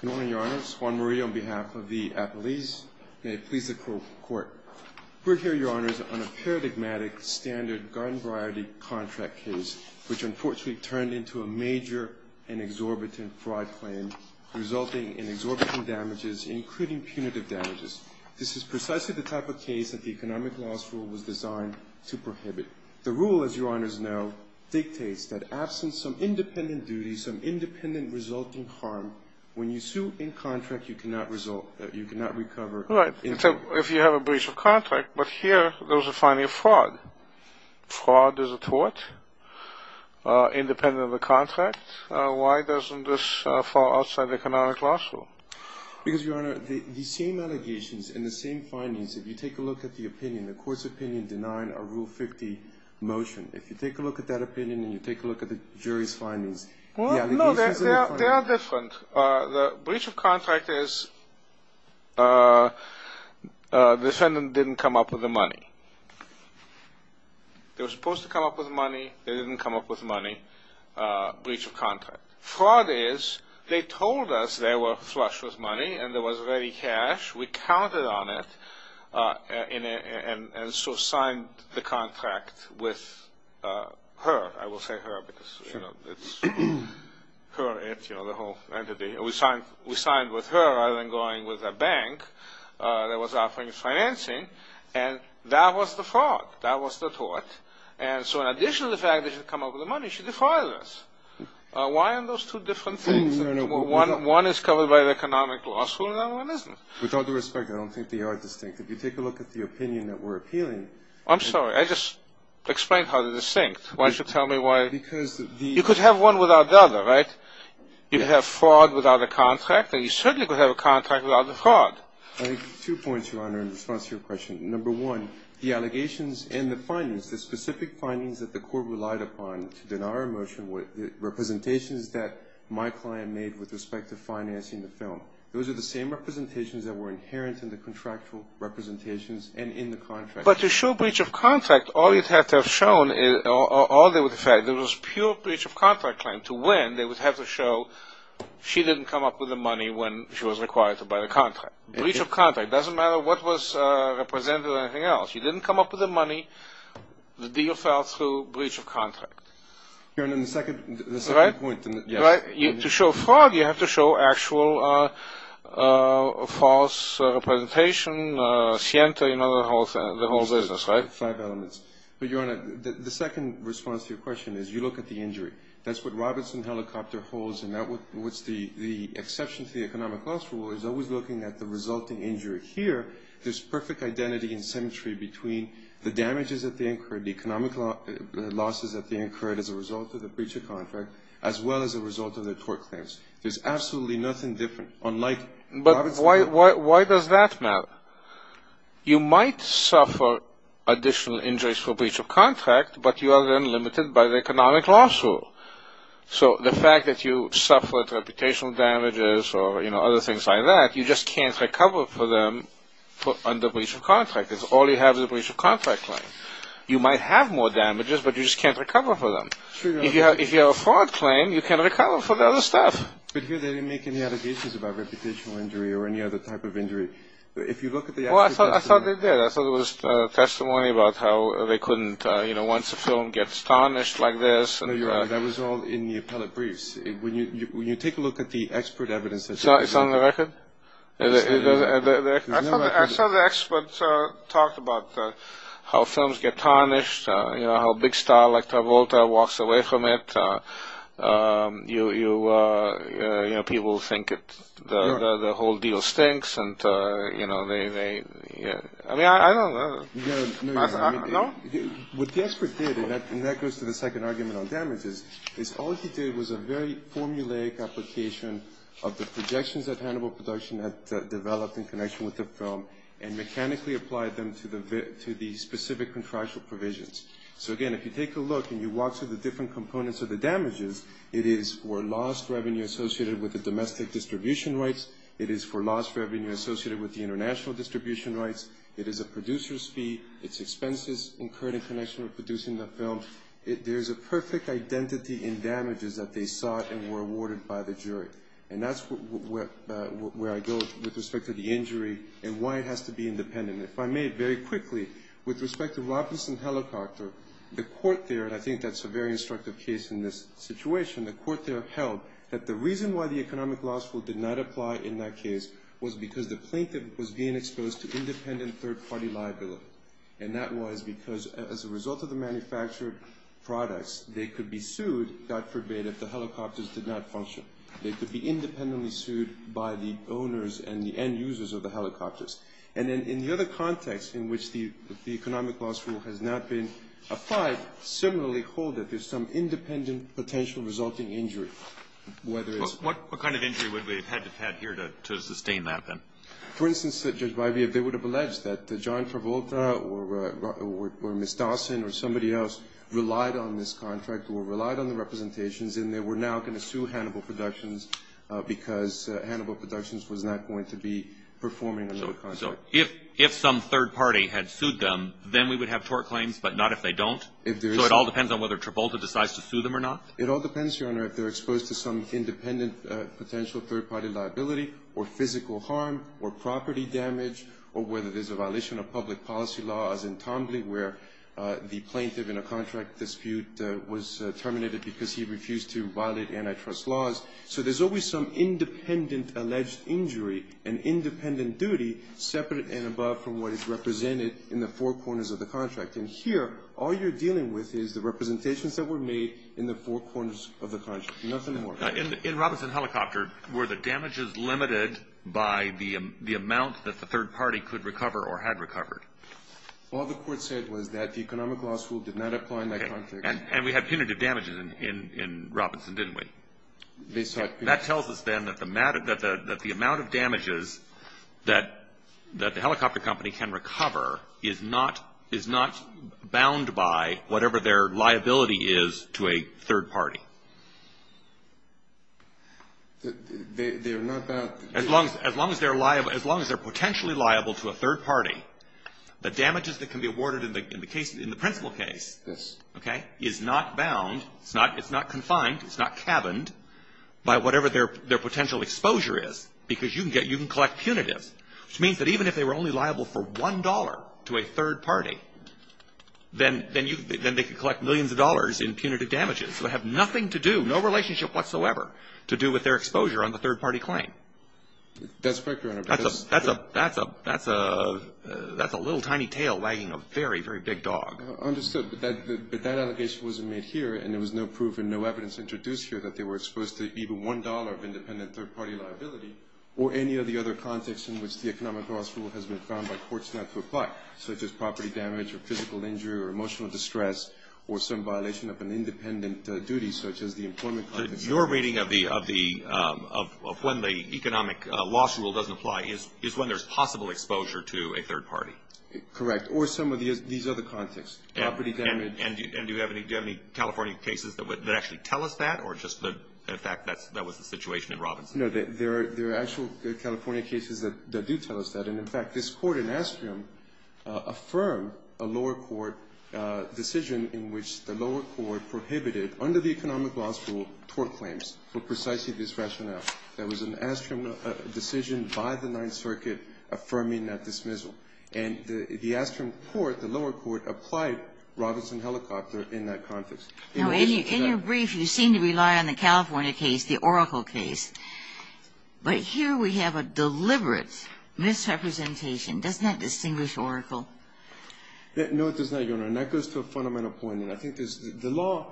Good morning, Your Honors. Juan Murray on behalf of the Appellees. May it please the Court. We're here, Your Honors, on a paradigmatic standard garden variety contract case, which unfortunately turned into a major and exorbitant fraud claim, resulting in exorbitant damages, including punitive damages. This is precisely the type of case that the Economic Laws Rule was designed to prohibit. The rule, as Your Honors know, dictates that absent some independent duty, some independent resulting harm, when you sue in contract, you cannot recover. Right. If you have a breach of contract. But here, there's a finding of fraud. Fraud is a tort, independent of the contract. Why doesn't this fall outside the Economic Laws Rule? Because, Your Honor, the same allegations and the same findings, if you take a look at the opinion, the Court's opinion denying a Rule 50 motion, if you take a look at that opinion and you take a look at the jury's findings. Well, no, they are different. The breach of contract is the defendant didn't come up with the money. They were supposed to come up with money. They didn't come up with money. Breach of contract. Fraud is, they told us they were flush with money and there was ready cash. We counted on it and so signed the contract with her. I will say her because it's her, it, you know, the whole entity. We signed with her rather than going with a bank that was offering financing. And that was the fraud. That was the tort. And so in addition to the fact that she didn't come up with the money, she defiled us. Why aren't those two different things? No, no, no. One is covered by the Economic Laws Rule and the other one isn't. With all due respect, I don't think they are distinct. If you take a look at the opinion that we're appealing... I'm sorry. I just explained how they're distinct. Why don't you tell me why... Because the... You could have one without the other, right? You could have fraud without a contract and you certainly could have a contract without a fraud. I have two points, Your Honor, in response to your question. Number one, the allegations and the findings, the specific findings that the Court relied upon to deny our motion, the representations that my client made with respect to financing the film, those are the same representations that were inherent in the contractual representations and in the contract. But to show breach of contract, all you'd have to have shown is... All they would have said, there was pure breach of contract claim. To win, they would have to show she didn't come up with the money when she was required to buy the contract. Breach of contract. It doesn't matter what was represented or anything else. She didn't come up with the money. Your Honor, the second point... Right? To show fraud, you have to show actual false representation, scienta, you know, the whole business, right? Five elements. But, Your Honor, the second response to your question is you look at the injury. That's what Robertson Helicopter holds and that's what the exception to the economic loss rule is always looking at the resulting injury. Here, there's perfect identity and symmetry between the damages that they incurred, the economic losses that they incurred as a result of the breach of contract, as well as a result of their tort claims. There's absolutely nothing different, unlike... But why does that matter? You might suffer additional injuries for breach of contract, but you are then limited by the economic loss rule. So the fact that you suffered reputational damages or, you know, other things like that, you just can't recover for them under breach of contract. It's all you have is a breach of contract claim. You might have more damages, but you just can't recover for them. If you have a fraud claim, you can't recover for the other stuff. But here they didn't make any allegations about reputational injury or any other type of injury. If you look at the actual testimony... Well, I thought they did. I thought it was testimony about how they couldn't, you know, once a film gets tarnished like this... No, Your Honor, that was all in the appellate briefs. When you take a look at the expert evidence... It's on the record? I saw the expert talk about how films get tarnished, you know, how a big star like Tavolta walks away from it. You know, people think the whole deal stinks, and, you know, they... I mean, I don't know. What the expert did, and that goes to the second argument on damages, is all he did was a very formulaic application of the projections that Hannibal Production had developed in connection with the film and mechanically applied them to the specific contractual provisions. So, again, if you take a look and you walk through the different components of the damages, it is for lost revenue associated with the domestic distribution rights. It is for lost revenue associated with the international distribution rights. It is a producer's fee. It's expenses incurred in connection with producing the film. There's a perfect identity in damages that they sought and were awarded by the jury. And that's where I go with respect to the injury and why it has to be independent. If I may, very quickly, with respect to Robinson Helicopter, the court there, and I think that's a very instructive case in this situation, the court there held that the reason why the economic law school did not apply in that case was because the plaintiff was being exposed to independent third-party liability. And that was because as a result of the manufactured products, they could be sued, God forbid, if the helicopters did not function. They could be independently sued by the owners and the end users of the helicopters. And then in the other context in which the economic law school has not been applied, similarly hold that there's some independent potential resulting injury. What kind of injury would we have had here to sustain that then? For instance, Judge Byvie, they would have alleged that John Travolta or Ms. Dawson or somebody else relied on this contract or relied on the representations and they were now going to sue Hannibal Productions because Hannibal Productions was not going to be performing another contract. So if some third party had sued them, then we would have tort claims, but not if they don't? So it all depends on whether Travolta decides to sue them or not? It all depends, Your Honor, if they're exposed to some independent potential third-party liability or physical harm or property damage or whether there's a violation of public policy laws in Tambly where the plaintiff in a contract dispute was terminated because he refused to violate antitrust laws. So there's always some independent alleged injury, an independent duty, separate and above from what is represented in the four corners of the contract. And here all you're dealing with is the representations that were made in the four corners of the contract, nothing more. In Robinson Helicopter, were the damages limited by the amount that the third party could recover or had recovered? All the court said was that the economic law school did not apply in that contract. And we had punitive damages in Robinson, didn't we? They sought punitive damages. That tells us then that the amount of damages that the helicopter company can recover is not bound by whatever their liability is to a third party. They're not bound? As long as they're potentially liable to a third party, the damages that can be awarded in the principle case is not bound, it's not confined, it's not cabined by whatever their potential exposure is because you can collect punitives, which means that even if they were only liable for $1 to a third party, then they could collect millions of dollars in punitive damages. So they have nothing to do, no relationship whatsoever to do with their exposure on the third party claim. That's correct, Your Honor. That's a little tiny tail wagging a very, very big dog. I understood, but that allegation wasn't made here and there was no proof and no evidence introduced here that they were exposed to even $1 of independent third party liability or any of the other contexts in which the economic loss rule has been found by courts not to apply, such as property damage or physical injury or emotional distress or some violation of an independent duty such as the employment claim. So your reading of when the economic loss rule doesn't apply is when there's possible exposure to a third party? Correct, or some of these other contexts, property damage. And do you have any California cases that actually tell us that or just the fact that that was the situation in Robinson? No, there are actual California cases that do tell us that. And, in fact, this Court in Astrium affirmed a lower court decision in which the lower court prohibited under the economic loss rule tort claims for precisely this rationale. There was an Astrium decision by the Ninth Circuit affirming that dismissal. And the Astrium court, the lower court, applied Robinson-Helicopter in that context. Now, in your brief, you seem to rely on the California case, the Oracle case. But here we have a deliberate misrepresentation. Doesn't that distinguish Oracle? No, it does not, Your Honor. And that goes to a fundamental point. And I think the law,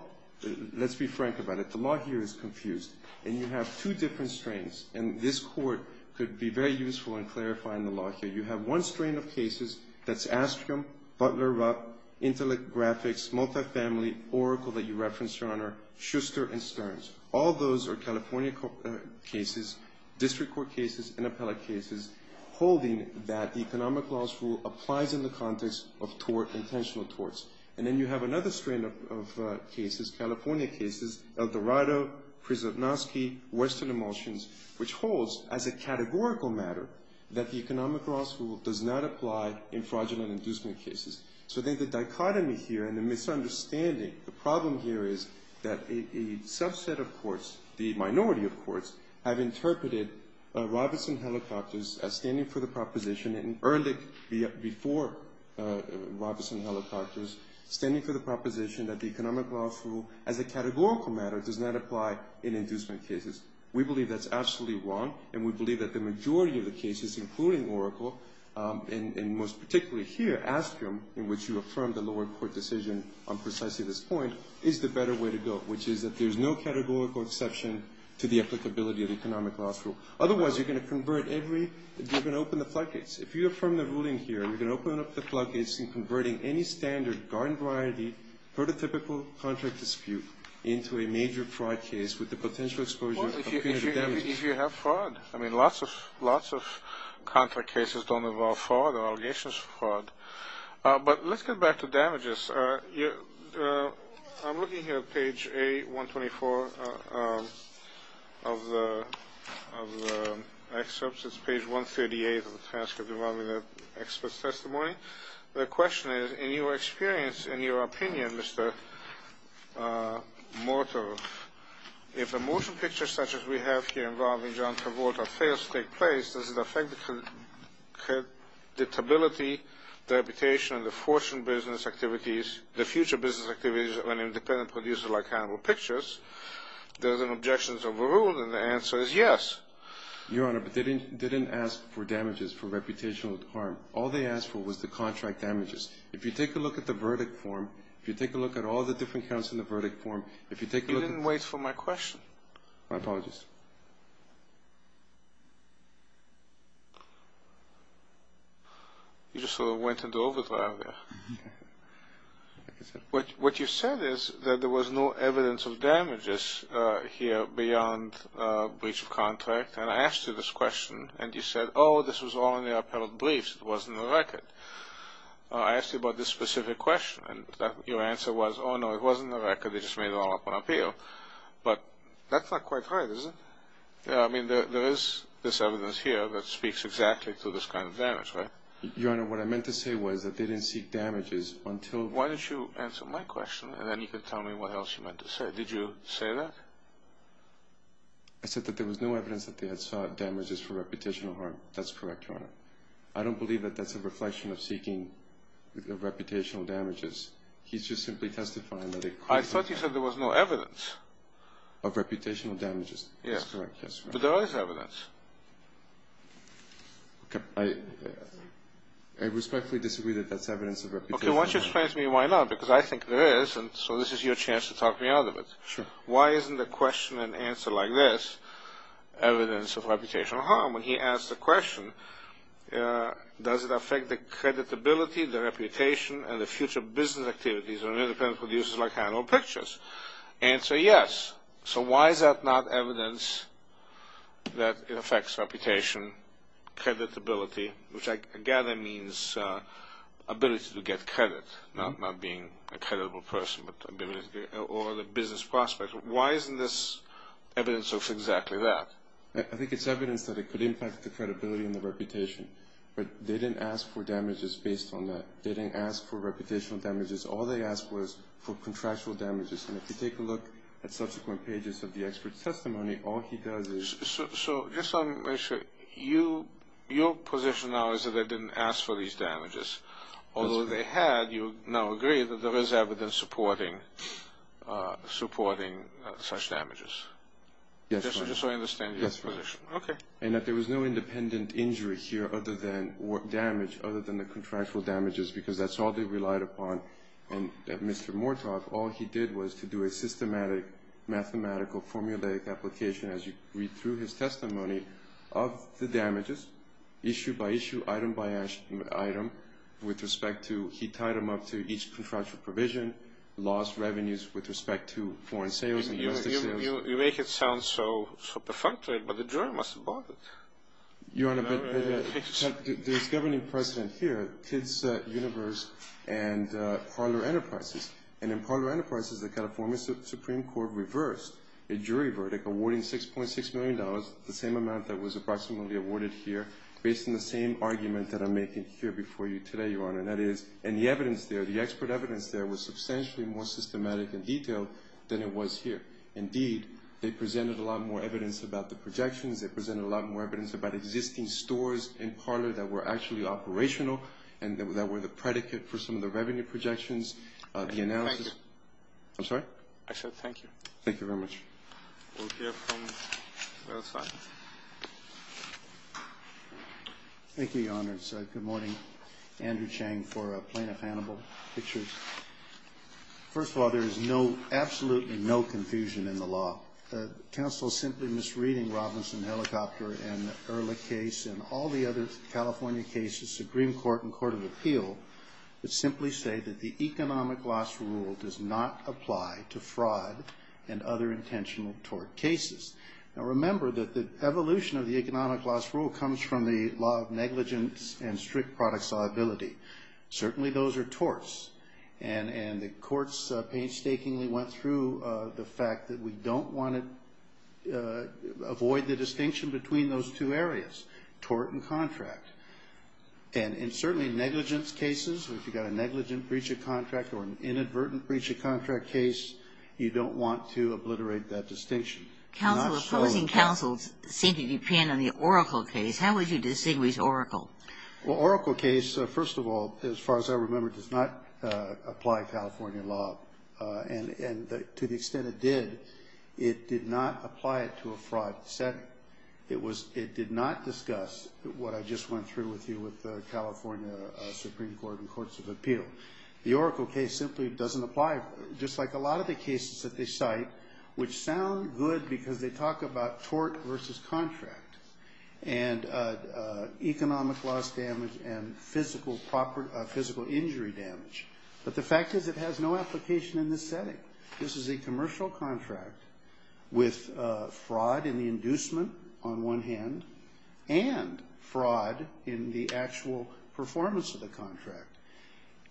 let's be frank about it. The law here is confused. And you have two different strains. And this Court could be very useful in clarifying the law here. You have one strain of cases that's Astrium, Butler-Rupp, Intellect Graphics, Multifamily, Oracle that you referenced, Your Honor, Schuster, and Stearns. All those are California cases, district court cases, and appellate cases, holding that the economic loss rule applies in the context of tort, intentional torts. And then you have another strain of cases, California cases, Eldorado, Prisipnovsky, Western Emulsions, which holds as a categorical matter that the economic loss rule does not apply in fraudulent inducement cases. So then the dichotomy here and the misunderstanding, the problem here is that a subset of courts, the minority of courts, have interpreted Robertson Helicopters as standing for the proposition, and earned it before Robertson Helicopters, standing for the proposition that the economic loss rule as a categorical matter does not apply in inducement cases. We believe that's absolutely wrong. And we believe that the majority of the cases, including Oracle, and most particularly here, Astrium, in which you affirm the lower court decision on precisely this point, is the better way to go, which is that there's no categorical exception to the applicability of the economic loss rule. Otherwise, you're going to convert every – you're going to open the floodgates. If you affirm the ruling here, you're going to open up the floodgates in converting any standard garden variety prototypical contract dispute into a major fraud case with the potential exposure of punitive damages. If you have fraud. I mean, lots of contract cases don't involve fraud or allegations of fraud. But let's get back to damages. I'm looking here at page A124 of the excerpts. It's page 138 of the Task of Devolving the Expert's Testimony. The question is, in your experience, in your opinion, Mr. Morton, if a motion picture such as we have here involving John Travolta fails to take place, does it affect the credibility, the reputation, and the fortune business activities, the future business activities of an independent producer like Hannibal Pictures? There's an objection to the rule, and the answer is yes. Your Honor, but they didn't ask for damages, for reputational harm. All they asked for was the contract damages. If you take a look at the verdict form, if you take a look at all the different counts in the verdict form, if you take a look at the- You didn't wait for my question. My apologies. You just sort of went into overdrive there. What you said is that there was no evidence of damages here beyond breach of contract, and I asked you this question, and you said, oh, this was all in the appellate briefs. It wasn't in the record. I asked you about this specific question, and your answer was, oh, no, it wasn't in the record. They just made it all up on appeal. But that's not quite right, is it? I mean, there is this evidence here that speaks exactly to this kind of damage, right? Your Honor, what I meant to say was that they didn't seek damages until- Why don't you answer my question, and then you can tell me what else you meant to say. Did you say that? I said that there was no evidence that they had sought damages for reputational harm. That's correct, Your Honor. I don't believe that that's a reflection of seeking reputational damages. He's just simply testifying that it- I thought you said there was no evidence. Of reputational damages. Yes. That's correct, yes, Your Honor. But there is evidence. Okay. I respectfully disagree that that's evidence of reputational damage. Okay, why don't you explain to me why not, because I think there is, and so this is your chance to talk me out of it. Sure. Why isn't the question and answer like this, evidence of reputational harm, when he asks the question, does it affect the creditability, the reputation, and the future business activities of independent producers like Handle Pictures? Answer, yes. So why is that not evidence that it affects reputation, creditability, which I gather means ability to get credit, not being a credible person, or the business prospect? Why isn't this evidence of exactly that? I think it's evidence that it could impact the credibility and the reputation, but they didn't ask for damages based on that. They didn't ask for reputational damages. All they asked was for contractual damages, and if you take a look at subsequent pages of the expert's testimony, all he does is- So just so I'm sure, your position now is that they didn't ask for these damages, although they had, you now agree, that there is evidence supporting such damages. Yes, sir. Just so I understand your position. Yes, sir. Okay. And that there was no independent injury here other than damage, other than the contractual damages, because that's all they relied upon. And Mr. Mortock, all he did was to do a systematic, mathematical, formulaic application, as you read through his testimony, of the damages, issue by issue, item by item, with respect to, he tied them up to each contractual provision, lost revenues with respect to foreign sales and U.S. sales. You make it sound so perfunctory, but the jury must have bought it. Your Honor, but there's governing precedent here, Kid's Universe and Parler Enterprises, and in Parler Enterprises, the California Supreme Court reversed a jury verdict, awarding $6.6 million, the same amount that was approximately awarded here, based on the same argument that I'm making here before you today, Your Honor, and that is, and the evidence there, the expert evidence there, was substantially more systematic and detailed than it was here. Indeed, they presented a lot more evidence about the projections, they presented a lot more evidence about existing stores in Parler that were actually operational and that were the predicate for some of the revenue projections, the analysis. Thank you. I'm sorry? I said thank you. Thank you very much. We'll hear from the other side. Thank you, Your Honor. It's good morning. Andrew Chang for Plaintiff Hannibal Pictures. First of all, there is no, absolutely no confusion in the law. The counsel simply misreading Robinson Helicopter and the Erlich case and all the other California cases, the Green Court and Court of Appeal, would simply say that the economic loss rule does not apply to fraud and other intentional tort cases. Now, remember that the evolution of the economic loss rule comes from the law of negligence and strict product solubility. Certainly those are torts, and the courts painstakingly went through the fact that we don't want to avoid the distinction between those two areas, tort and contract. And certainly negligence cases, if you've got a negligent breach of contract or an inadvertent breach of contract case, you don't want to obliterate that distinction. Counsel, opposing counsel seem to depend on the Oracle case. How would you distinguish Oracle? Well, Oracle case, first of all, as far as I remember, does not apply California law. And to the extent it did, it did not apply it to a fraud setting. It did not discuss what I just went through with you with the California Supreme Court and Courts of Appeal. The Oracle case simply doesn't apply, just like a lot of the cases that they cite, which sound good because they talk about tort versus contract and economic loss damage and physical injury damage. But the fact is it has no application in this setting. This is a commercial contract with fraud in the inducement on one hand and fraud in the actual performance of the contract.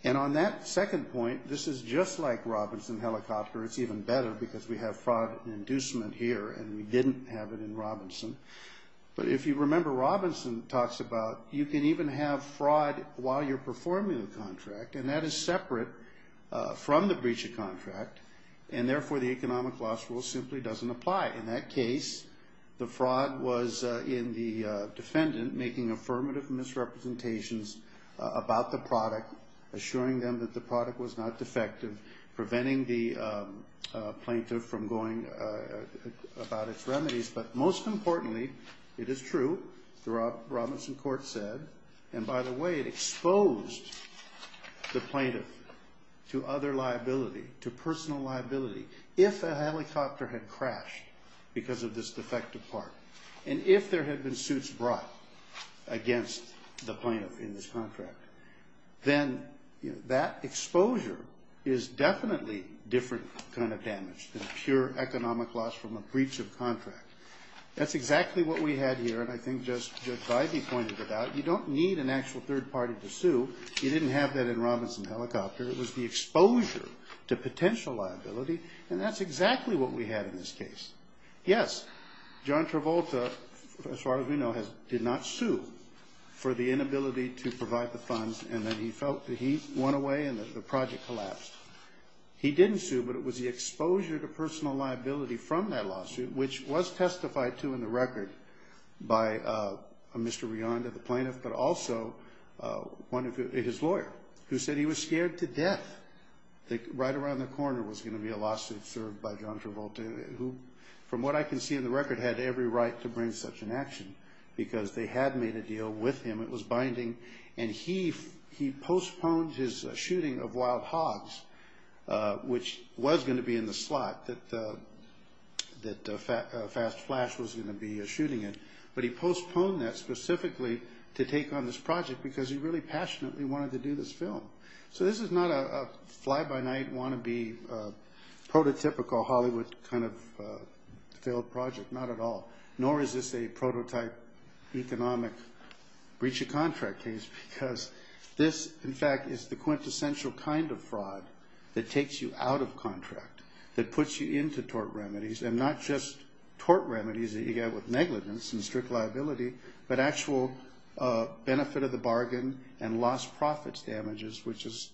And on that second point, this is just like Robinson Helicopter. It's even better because we have fraud inducement here and we didn't have it in Robinson. But if you remember, Robinson talks about you can even have fraud while you're performing the contract, and that is separate from the breach of contract, and therefore the economic loss rule simply doesn't apply. In that case, the fraud was in the defendant making affirmative misrepresentations about the product, assuring them that the product was not defective, preventing the plaintiff from going about its remedies. But most importantly, it is true, the Robinson court said, and by the way, it exposed the plaintiff to other liability, to personal liability. If a helicopter had crashed because of this defective part, and if there had been suits brought against the plaintiff in this contract, then that exposure is definitely different kind of damage than pure economic loss from a breach of contract. That's exactly what we had here, and I think Judge Bybee pointed it out. You don't need an actual third party to sue. You didn't have that in Robinson Helicopter. It was the exposure to potential liability, and that's exactly what we had in this case. Yes, John Travolta, as far as we know, did not sue for the inability to provide the funds, and then he felt that he won away and the project collapsed. He didn't sue, but it was the exposure to personal liability from that lawsuit, which was testified to in the record by Mr. Rionda, the plaintiff, but also his lawyer, who said he was scared to death that right around the corner was going to be a lawsuit served by John Travolta, who, from what I can see in the record, had every right to bring such an action because they had made a deal with him. It was binding, and he postponed his shooting of wild hogs, which was going to be in the slot that Fast Flash was going to be shooting in, but he postponed that specifically to take on this project because he really passionately wanted to do this film. So this is not a fly-by-night, want-to-be, prototypical Hollywood kind of failed project, not at all, nor is this a prototype economic breach of contract case because this, in fact, is the quintessential kind of fraud that takes you out of contract, that puts you into tort remedies, and not just tort remedies that you get with negligence and strict liability, but actual benefit of the bargain and lost profits damages, which is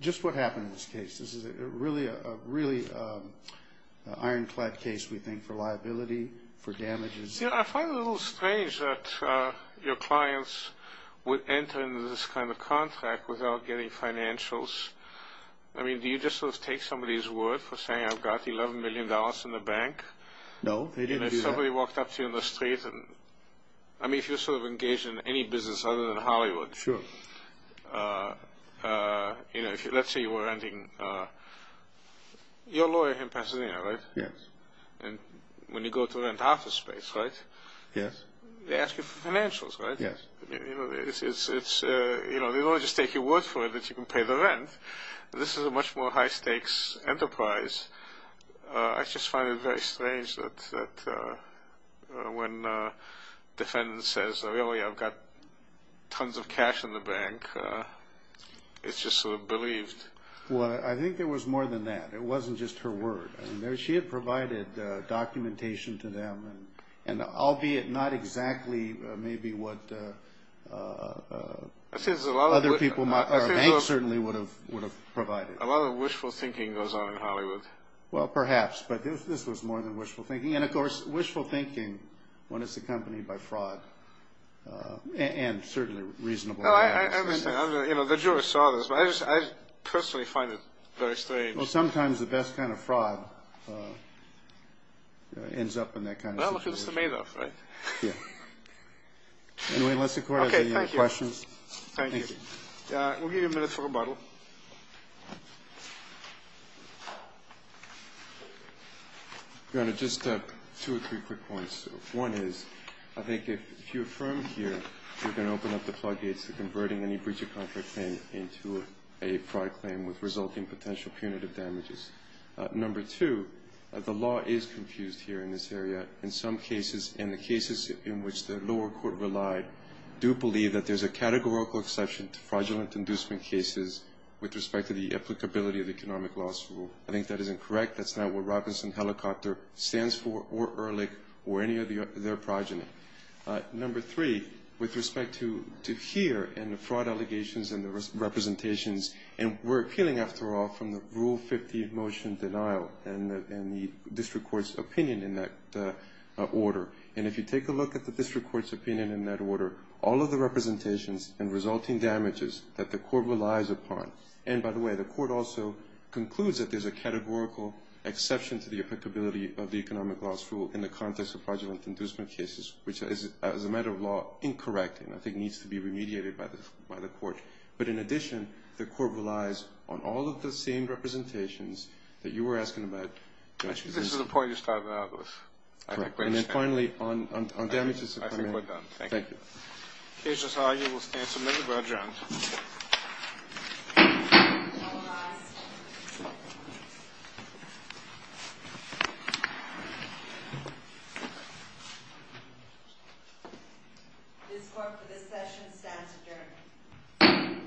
just what happened in this case. This is really an ironclad case, we think, for liability, for damages. You know, I find it a little strange that your clients would enter into this kind of contract without getting financials. I mean, do you just sort of take somebody's word for saying, I've got $11 million in the bank? No, they didn't do that. You know, if somebody walked up to you in the street and... I mean, if you're sort of engaged in any business other than Hollywood. Sure. You know, let's say you were renting... You're a lawyer in Pasadena, right? Yes. And when you go to rent office space, right? Yes. They ask you for financials, right? Yes. You know, they don't just take your word for it that you can pay the rent. This is a much more high-stakes enterprise. I just find it very strange that when a defendant says, really, I've got tons of cash in the bank, it's just sort of believed. Well, I think there was more than that. It wasn't just her word. She had provided documentation to them, and albeit not exactly maybe what other people... I think there's a lot of... A bank certainly would have provided. A lot of wishful thinking goes on in Hollywood. Well, perhaps, but this was more than wishful thinking. And, of course, wishful thinking when it's accompanied by fraud, and certainly reasonable fraud. I understand. You know, the jurors saw this, but I personally find it very strange. Well, sometimes the best kind of fraud ends up in that kind of situation. Well, it's just a made-up, right? Yeah. Anyway, unless the Court has any other questions. Okay, thank you. Thank you. We'll give you a minute for rebuttal. Your Honor, just two or three quick ones. One is I think if you affirm here you're going to open up the floodgates to converting any breach of contract claim into a fraud claim with resulting potential punitive damages. Number two, the law is confused here in this area. In some cases, and the cases in which the lower court relied, do believe that there's a categorical exception to fraudulent inducement cases with respect to the applicability of the economic loss rule. I think that is incorrect. That's not what Robinson Helicopter stands for or Ehrlich or any of their progeny. Number three, with respect to here and the fraud allegations and the representations, and we're appealing, after all, from the Rule 15 motion denial and the district court's opinion in that order. And if you take a look at the district court's opinion in that order, all of the representations and resulting damages that the court relies upon and, by the way, the court also concludes that there's a categorical exception to the applicability of the economic loss rule in the context of fraudulent inducement cases, which is, as a matter of law, incorrect and I think needs to be remediated by the court. But in addition, the court relies on all of the same representations that you were asking about. I think this is the point you started out with. And then finally, on damages. I think we're done. Thank you. The case is argued. We'll stand for a minute. We'll adjourn. All rise. This court for this session stands adjourned.